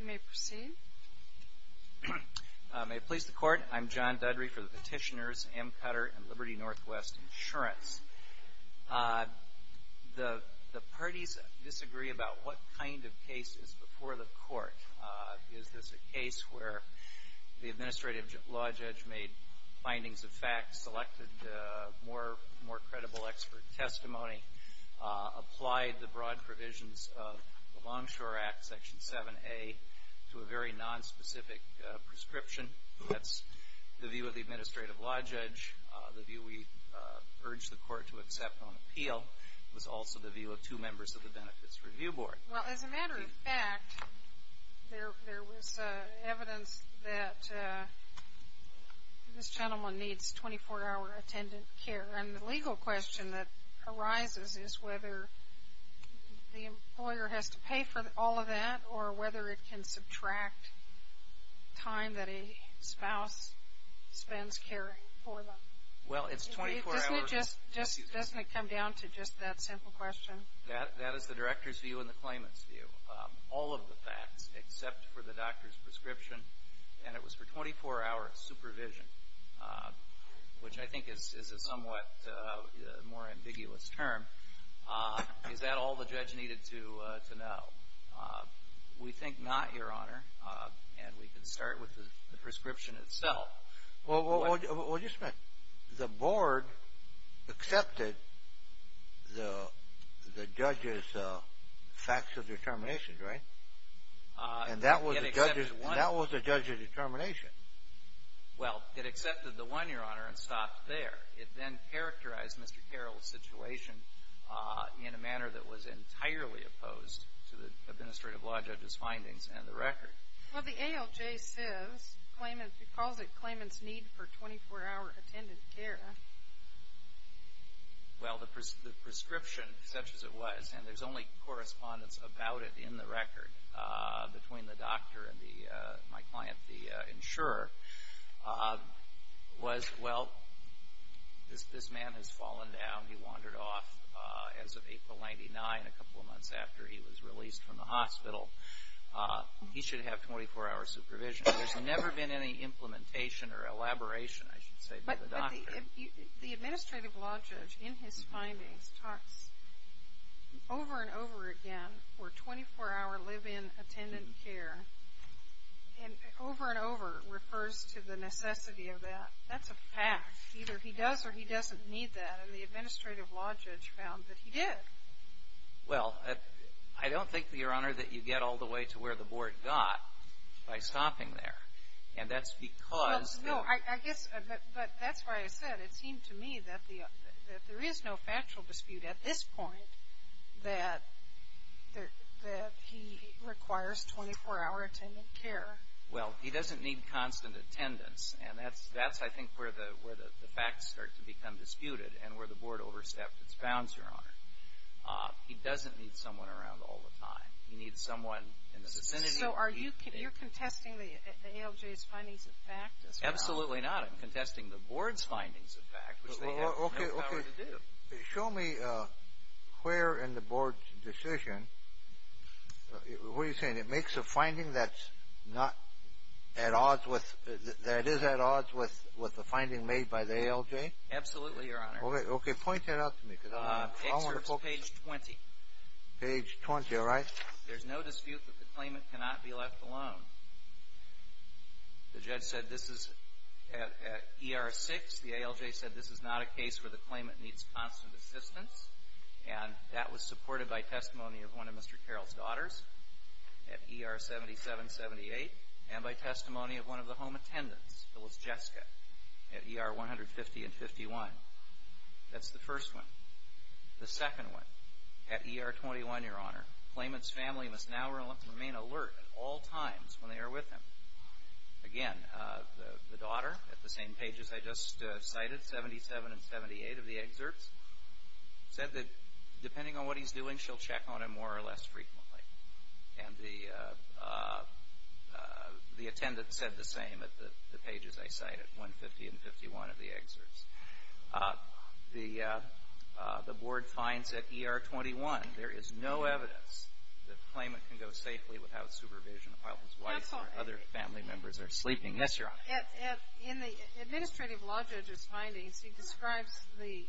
You may proceed. May it please the Court, I'm John Dudry for the petitioners M. Cutter and Liberty Northwest Insurance. The parties disagree about what kind of case is before the Court. Is this a case where the administrative law judge made findings of fact, selected more credible expert testimony, applied the broad provisions of the Longshore Act, Section 7A, to a very nonspecific prescription? That's the view of the administrative law judge. The view we urged the Court to accept on appeal was also the view of two members of the Benefits Review Board. Well, as a matter of fact, there was evidence that this gentleman needs 24-hour attendant care. And the legal question that arises is whether the employer has to pay for all of that or whether it can subtract time that a spouse spends caring for them. Well, it's 24 hours. Doesn't it come down to just that simple question? That is the director's view and the claimant's view. All of the facts except for the doctor's prescription, and it was for 24-hour supervision, which I think is a somewhat more ambiguous term. Is that all the judge needed to know? We think not, Your Honor, and we can start with the prescription itself. Well, just a minute. The board accepted the judge's facts of determination, right? And that was the judge's determination. Well, it accepted the one, Your Honor, and stopped there. It then characterized Mr. Carroll's situation in a manner that was entirely opposed to the administrative law judge's findings and the record. Well, the ALJ says, calls it claimant's need for 24-hour attendant care. Well, the prescription, such as it was, and there's only correspondence about it in the record, between the doctor and my client, the insurer, was, well, this man has fallen down. He wandered off as of April 99, a couple of months after he was released from the hospital. He should have 24-hour supervision. There's never been any implementation or elaboration, I should say, by the doctor. But the administrative law judge, in his findings, talks over and over again for 24-hour live-in attendant care, and over and over refers to the necessity of that. That's a fact. Either he does or he doesn't need that, and the administrative law judge found that he did. Well, I don't think, Your Honor, that you get all the way to where the Board got by stopping there, and that's because the ---- Well, no, I guess, but that's why I said it seemed to me that there is no factual dispute at this point that he requires 24-hour attendant care. Well, he doesn't need constant attendance, and that's, I think, where the facts start to become disputed and where the Board overstepped its bounds, Your Honor. He doesn't need someone around all the time. He needs someone in the vicinity. So are you contesting the ALJ's findings of fact as well? Absolutely not. I'm contesting the Board's findings of fact, which they have no power to do. Show me where in the Board's decision, what are you saying, it makes a finding that's not at odds with, that is at odds with the finding made by the ALJ? Absolutely, Your Honor. Okay. Point that out to me because I want to focus. It's page 20. Page 20, all right. There's no dispute that the claimant cannot be left alone. The judge said this is at ER 6. The ALJ said this is not a case where the claimant needs constant assistance, and that was supported by testimony of one of Mr. Carroll's daughters at ER 77-78 and by testimony of one of the home attendants, Phyllis Jessica, at ER 150 and 51. That's the first one. The second one, at ER 21, Your Honor, the claimant's family must now remain alert at all times when they are with him. Again, the daughter, at the same page as I just cited, 77 and 78 of the excerpts, said that depending on what he's doing, she'll check on him more or less frequently. And the attendant said the same at the pages I cited, 150 and 51 of the excerpts. The board finds at ER 21 there is no evidence that the claimant can go safely without supervision while his wife or other family members are sleeping. Yes, Your Honor. In the administrative law judge's findings, he describes the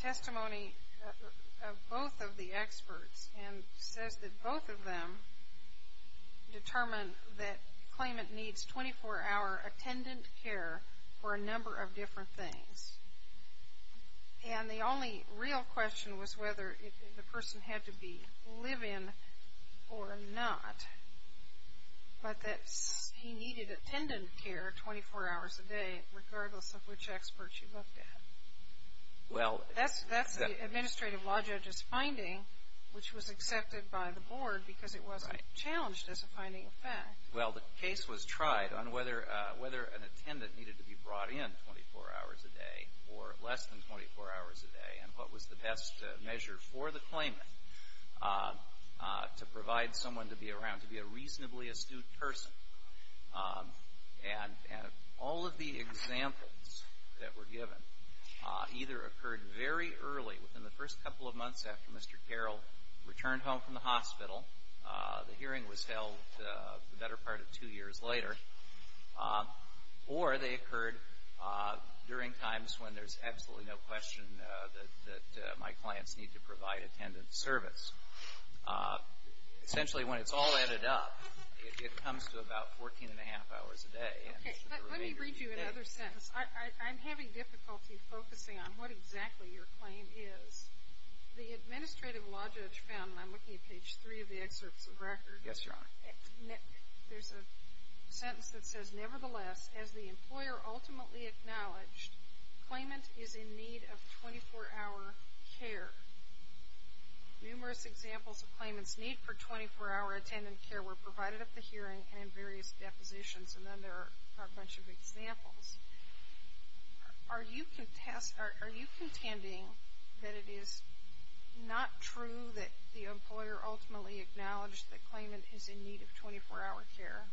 testimony of both of the experts and says that both of them determined that the claimant needs 24-hour attendant care for a number of different things. And the only real question was whether the person had to be live-in or not, but that he needed attendant care 24 hours a day, regardless of which expert she looked at. That's the administrative law judge's finding, which was accepted by the board because it wasn't challenged as a finding of fact. Well, the case was tried on whether an attendant needed to be brought in 24 hours a day or less than 24 hours a day, and what was the best measure for the claimant to provide someone to be around, to be a reasonably astute person. And all of the examples that were given either occurred very early, within the first couple of months after Mr. Carroll returned home from the hospital, the hearing was held the better part of two years later, or they occurred during times when there's absolutely no question that my clients need to provide attendant service. Essentially, when it's all added up, it comes to about 14 1⁄2 hours a day. Okay, but let me read you another sentence. I'm having difficulty focusing on what exactly your claim is. The administrative law judge found, and I'm looking at page 3 of the excerpts of record. Yes, Your Honor. There's a sentence that says, Nevertheless, as the employer ultimately acknowledged, claimant is in need of 24-hour care. Numerous examples of claimants' need for 24-hour attendant care were provided at the hearing and in various depositions, and then there are a bunch of examples. Are you contending that it is not true that the employer ultimately acknowledged that claimant is in need of 24-hour care?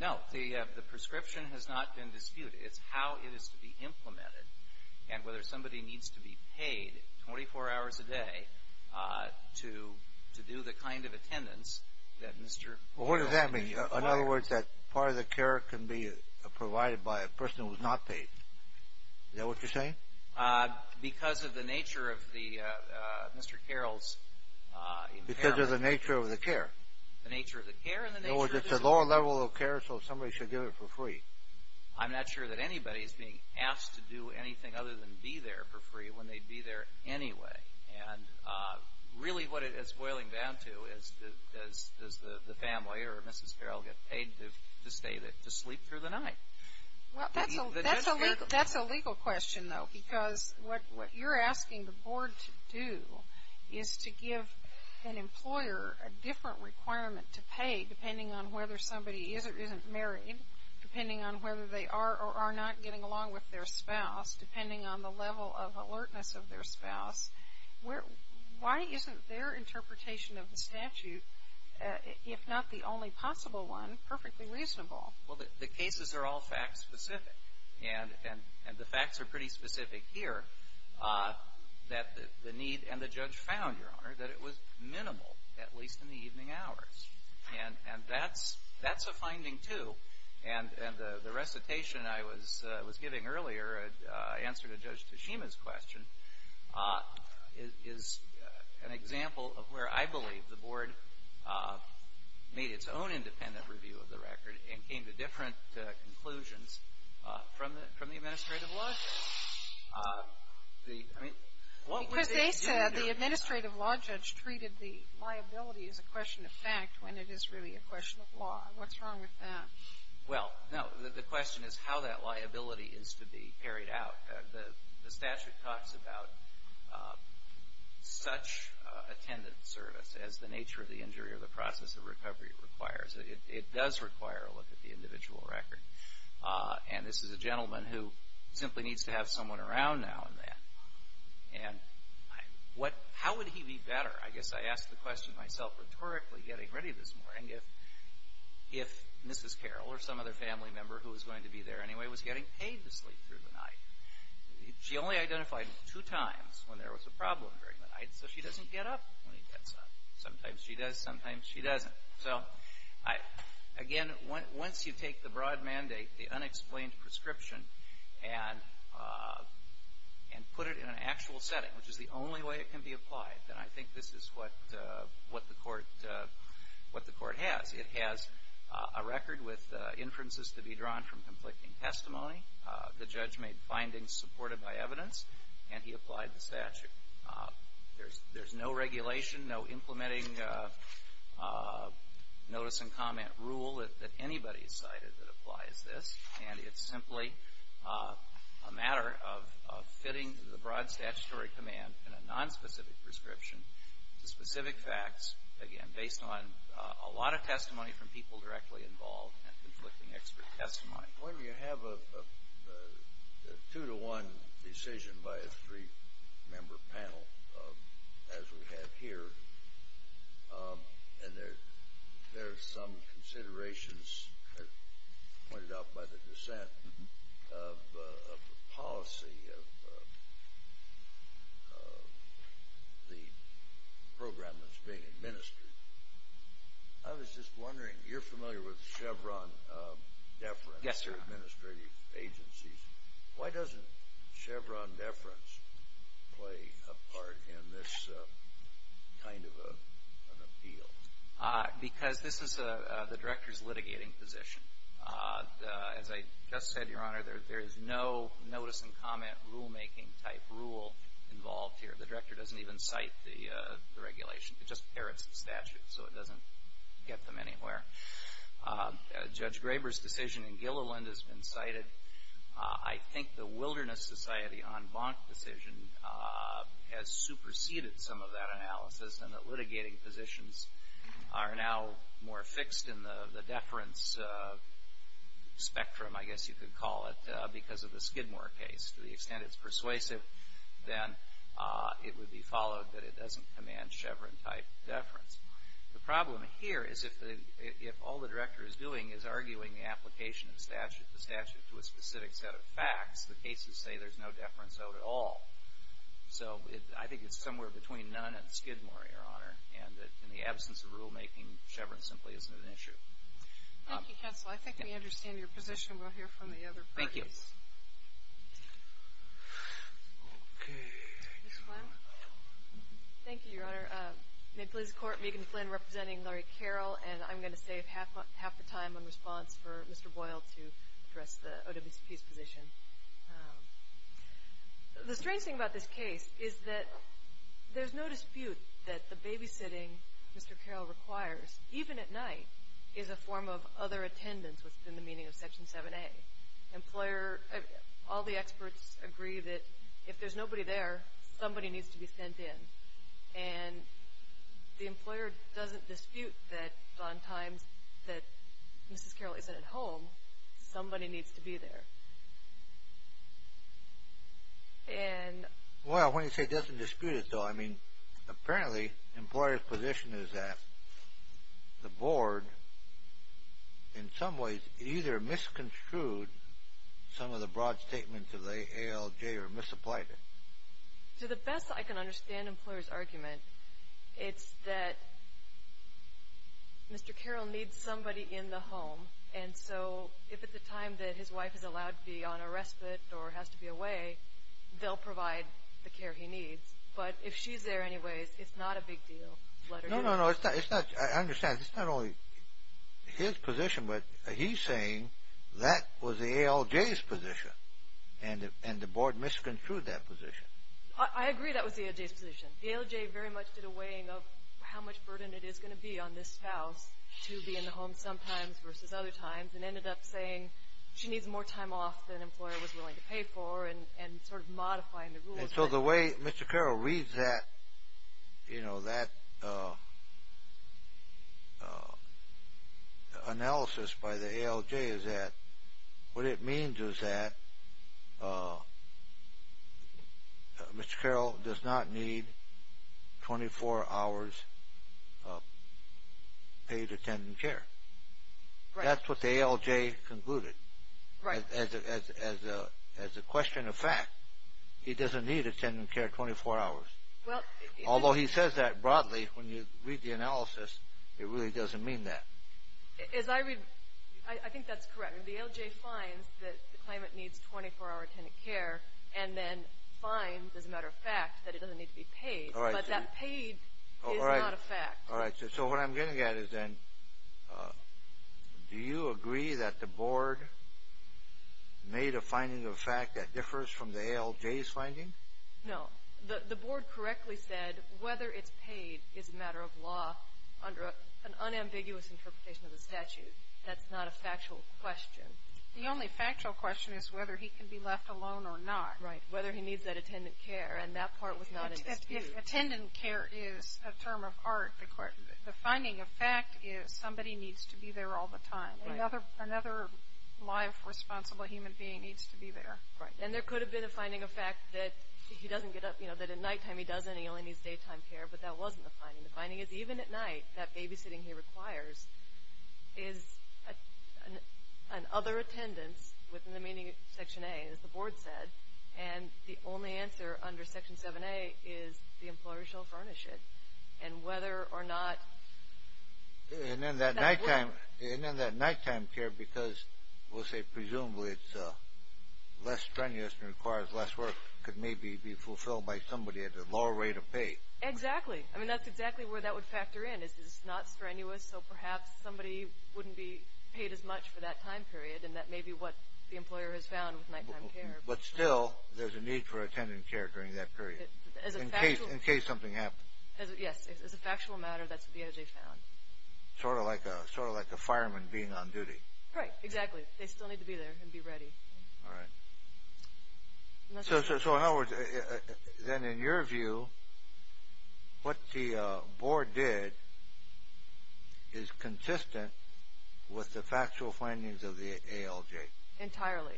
No. The prescription has not been disputed. It's how it is to be implemented and whether somebody needs to be paid 24 hours a day to do the kind of attendance that Mr. Carroll. Well, what does that mean? In other words, that part of the care can be provided by a person who is not paid. Is that what you're saying? Because of the nature of Mr. Carroll's impairment. Because of the nature of the care. The nature of the care. In other words, it's a lower level of care, so somebody should give it for free. I'm not sure that anybody is being asked to do anything other than be there for free when they'd be there anyway. And really what it's boiling down to is, does the family or Mrs. Carroll get paid to sleep through the night? Well, that's a legal question, though, because what you're asking the board to do is to give an employer a different requirement to pay depending on whether somebody is or isn't married, depending on whether they are or are not getting along with their spouse, depending on the level of alertness of their spouse. Why isn't their interpretation of the statute, if not the only possible one, perfectly reasonable? Well, the cases are all fact-specific. And the facts are pretty specific here that the need and the judge found, Your Honor, that it was minimal, at least in the evening hours. And that's a finding, too. And the recitation I was giving earlier, in answer to Judge Tashima's question, is an example of where I believe the board made its own independent review of the record and came to different conclusions from the administrative law judge. The, I mean, what would they do? Because they said the administrative law judge treated the liability as a question of fact when it is really a question of law. What's wrong with that? Well, no. The question is how that liability is to be carried out. The statute talks about such attendant service as the nature of the injury or the process of recovery requires. It does require a look at the individual record. And this is a gentleman who simply needs to have someone around now and then. And how would he be better? I guess I asked the question myself rhetorically getting ready this morning if Mrs. Carroll or some other family member who was going to be there anyway was getting paid to sleep through the night. She only identified him two times when there was a problem during the night, so she doesn't get up when he gets up. Sometimes she does, sometimes she doesn't. So, again, once you take the broad mandate, the unexplained prescription, and put it in an actual setting, which is the only way it can be applied, then I think this is what the court has. It has a record with inferences to be drawn from conflicting testimony. The judge made findings supported by evidence, and he applied the statute. There's no regulation, no implementing notice and comment rule that anybody has cited that applies this, and it's simply a matter of fitting the broad statutory command in a nonspecific prescription to specific facts, again, based on a lot of testimony from people directly involved and conflicting expert testimony. When you have a two-to-one decision by a three-member panel, as we have here, and there are some considerations pointed out by the dissent of the policy of the program that's being administered, I was just wondering, you're familiar with Chevron deference. Yes, sir. Administrative agencies. Why doesn't Chevron deference play a part in this kind of an appeal? Because this is the director's litigating position. As I just said, Your Honor, there is no notice and comment rulemaking type rule involved here. The director doesn't even cite the regulation. It just parrots the statute, so it doesn't get them anywhere. Judge Graber's decision in Gilliland has been cited. I think the Wilderness Society en banc decision has superseded some of that analysis in that litigating positions are now more fixed in the deference spectrum, I guess you could call it, because of the Skidmore case. To the extent it's persuasive, then it would be followed that it doesn't command Chevron-type deference. The problem here is if all the director is doing is arguing the application of the statute to a specific set of facts, the cases say there's no deference out at all. So I think it's somewhere between none and Skidmore, Your Honor, and in the absence of rulemaking, Chevron simply isn't an issue. Thank you, counsel. I think we understand your position. We'll hear from the other parties. Thank you. Okay. Ms. Flynn? Thank you, Your Honor. May it please the Court, Megan Flynn representing Laurie Carroll, and I'm going to save half the time on response for Mr. Boyle to address the OWCP's position. The strange thing about this case is that there's no dispute that the babysitting Mr. Carroll requires, even at night, is a form of other attendance within the meaning of Section 7A. All the experts agree that if there's nobody there, somebody needs to be sent in, and the employer doesn't dispute that on times that Mrs. Carroll isn't at home, somebody needs to be there. Well, when you say doesn't dispute it, though, I mean, apparently the employer's position is that the Board, in some ways, either misconstrued some of the broad statements of the ALJ or misapplied it. To the best I can understand the employer's argument, it's that Mr. Carroll needs somebody in the home, and so if at the time that his wife is allowed to be on a respite or has to be away, they'll provide the care he needs. But if she's there anyways, it's not a big deal. No, no, no, I understand. It's not only his position, but he's saying that was the ALJ's position, and the Board misconstrued that position. I agree that was the ALJ's position. The ALJ very much did a weighing of how much burden it is going to be on this spouse to be in the home sometimes versus other times, and ended up saying she needs more time off than an employer was willing to pay for, and sort of modifying the rules. So the way Mr. Carroll reads that analysis by the ALJ is that what it means is that Mr. Carroll does not need 24 hours of paid attendant care. That's what the ALJ concluded as a question of fact. He doesn't need attendant care 24 hours. Although he says that broadly, when you read the analysis, it really doesn't mean that. I think that's correct. The ALJ finds that the claimant needs 24-hour attendant care, and then finds, as a matter of fact, that it doesn't need to be paid. But that paid is not a fact. All right. So what I'm getting at is then do you agree that the Board made a finding of fact that differs from the ALJ's finding? No. The Board correctly said whether it's paid is a matter of law under an unambiguous interpretation of the statute. That's not a factual question. The only factual question is whether he can be left alone or not. Right. Whether he needs that attendant care, and that part was not in dispute. Attendant care is a term of art. The finding of fact is somebody needs to be there all the time. Right. Another life-responsible human being needs to be there. Right. And there could have been a finding of fact that he doesn't get up, you know, that at nighttime he doesn't. He only needs daytime care. But that wasn't the finding. The finding is even at night, that babysitting he requires is an other attendance within the meaning of Section A, as the Board said. And the only answer under Section 7A is the employer shall furnish it. And whether or not that works. And then that nighttime care, because we'll say presumably it's less strenuous and requires less work, could maybe be fulfilled by somebody at a lower rate of pay. Exactly. I mean, that's exactly where that would factor in, is it's not strenuous, so perhaps somebody wouldn't be paid as much for that time period, and that may be what the employer has found with nighttime care. But still, there's a need for attendant care during that period in case something happens. Yes. As a factual matter, that's what the ALJ found. Sort of like a fireman being on duty. Right. Exactly. They still need to be there and be ready. All right. So in other words, then in your view, what the Board did is consistent with the factual findings of the ALJ. Entirely.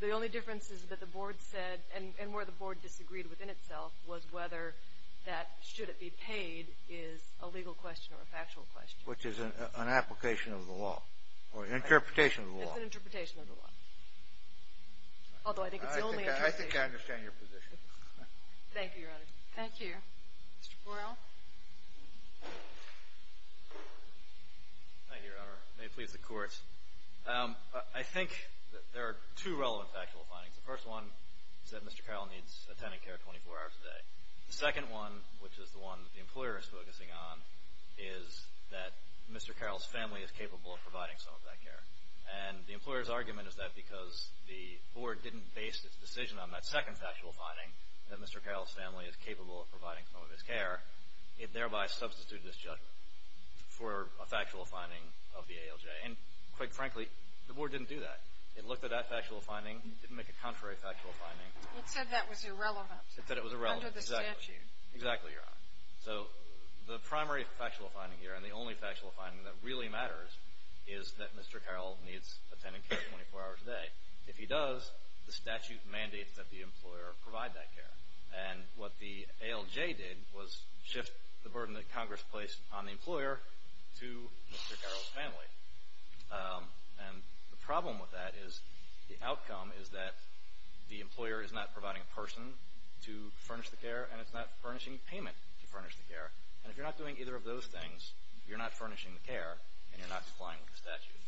The only difference is that the Board said, and where the Board disagreed within itself, was whether that should it be paid is a legal question or a factual question. Which is an application of the law or an interpretation of the law. It's an interpretation of the law. Although I think it's the only interpretation. I think I understand your position. Thank you, Your Honor. Thank you. Mr. Borrell. Thank you, Your Honor. May it please the Court. I think there are two relevant factual findings. The first one is that Mr. Carroll needs attendant care 24 hours a day. The second one, which is the one that the employer is focusing on, is that Mr. Carroll's family is capable of providing some of that care. And the employer's argument is that because the Board didn't base its decision on that second factual finding, that Mr. Carroll's family is capable of providing some of his care, it thereby substituted his judgment for a factual finding of the ALJ. And quite frankly, the Board didn't do that. It looked at that factual finding. It didn't make a contrary factual finding. It said that was irrelevant. It said it was irrelevant. Under the statute. Exactly, Your Honor. So the primary factual finding here, and the only factual finding that really matters, is that Mr. Carroll needs attendant care 24 hours a day. If he does, the statute mandates that the employer provide that care. And what the ALJ did was shift the burden that Congress placed on the employer to Mr. Carroll's family. And the problem with that is the outcome is that the employer is not providing a person to furnish the care, and it's not furnishing payment to furnish the care. And if you're not doing either of those things, you're not furnishing the care, and you're not complying with the statute.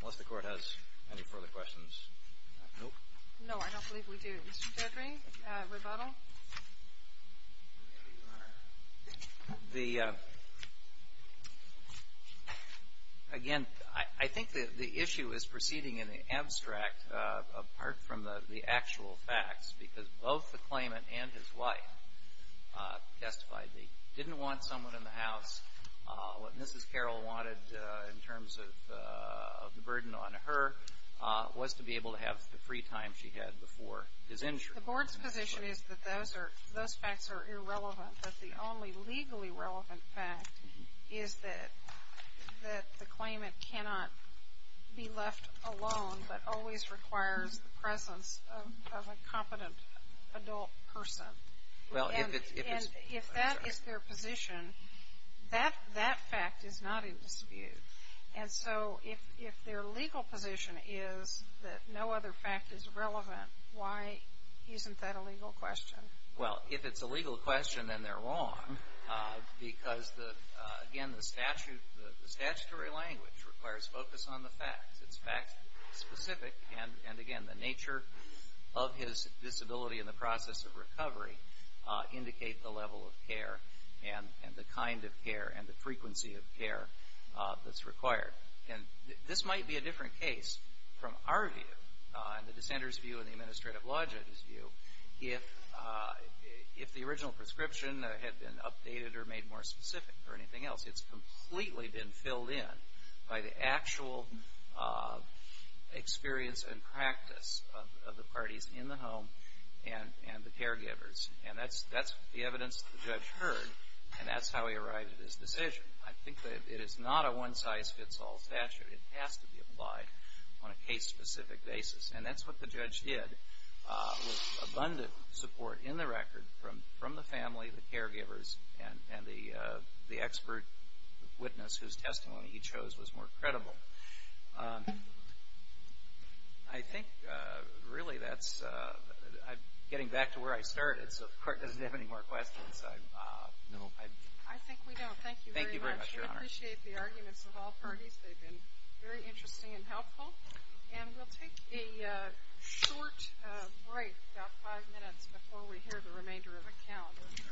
Unless the Court has any further questions. No? No, I don't believe we do. Mr. Gregory, rebuttal? The, again, I think the issue is proceeding in the abstract, apart from the actual facts, because both the claimant and his wife testified they didn't want someone in the house. What Mrs. Carroll wanted in terms of the burden on her was to be able to have the free time she had before his injury. The Board's position is that those facts are irrelevant, but the only legally relevant fact is that the claimant cannot be left alone, but always requires the presence of a competent adult person. And if that is their position, that fact is not in dispute. And so if their legal position is that no other fact is relevant, why isn't that a legal question? Well, if it's a legal question, then they're wrong, because, again, the statutory language requires focus on the facts. It's fact-specific, and, again, the nature of his disability in the process of recovery indicate the level of care and the kind of care and the frequency of care that's required. And this might be a different case from our view, and the dissenter's view and the administrative law judge's view, if the original prescription had been updated or made more specific or anything else. It's completely been filled in by the actual experience and practice of the parties in the home and the caregivers. And that's the evidence the judge heard, and that's how he arrived at his decision. I think that it is not a one-size-fits-all statute. It has to be applied on a case-specific basis, and that's what the judge did with abundant support in the record from the family, the caregivers, and the expert witness whose testimony he chose was more credible. I think, really, that's – getting back to where I started, so if the Court doesn't have any more questions, I'm – no. I think we don't. Thank you very much. Thank you very much, Your Honor. I appreciate the arguments of all parties. They've been very interesting and helpful. And we'll take a short break, about five minutes, before we hear the remainder of the count.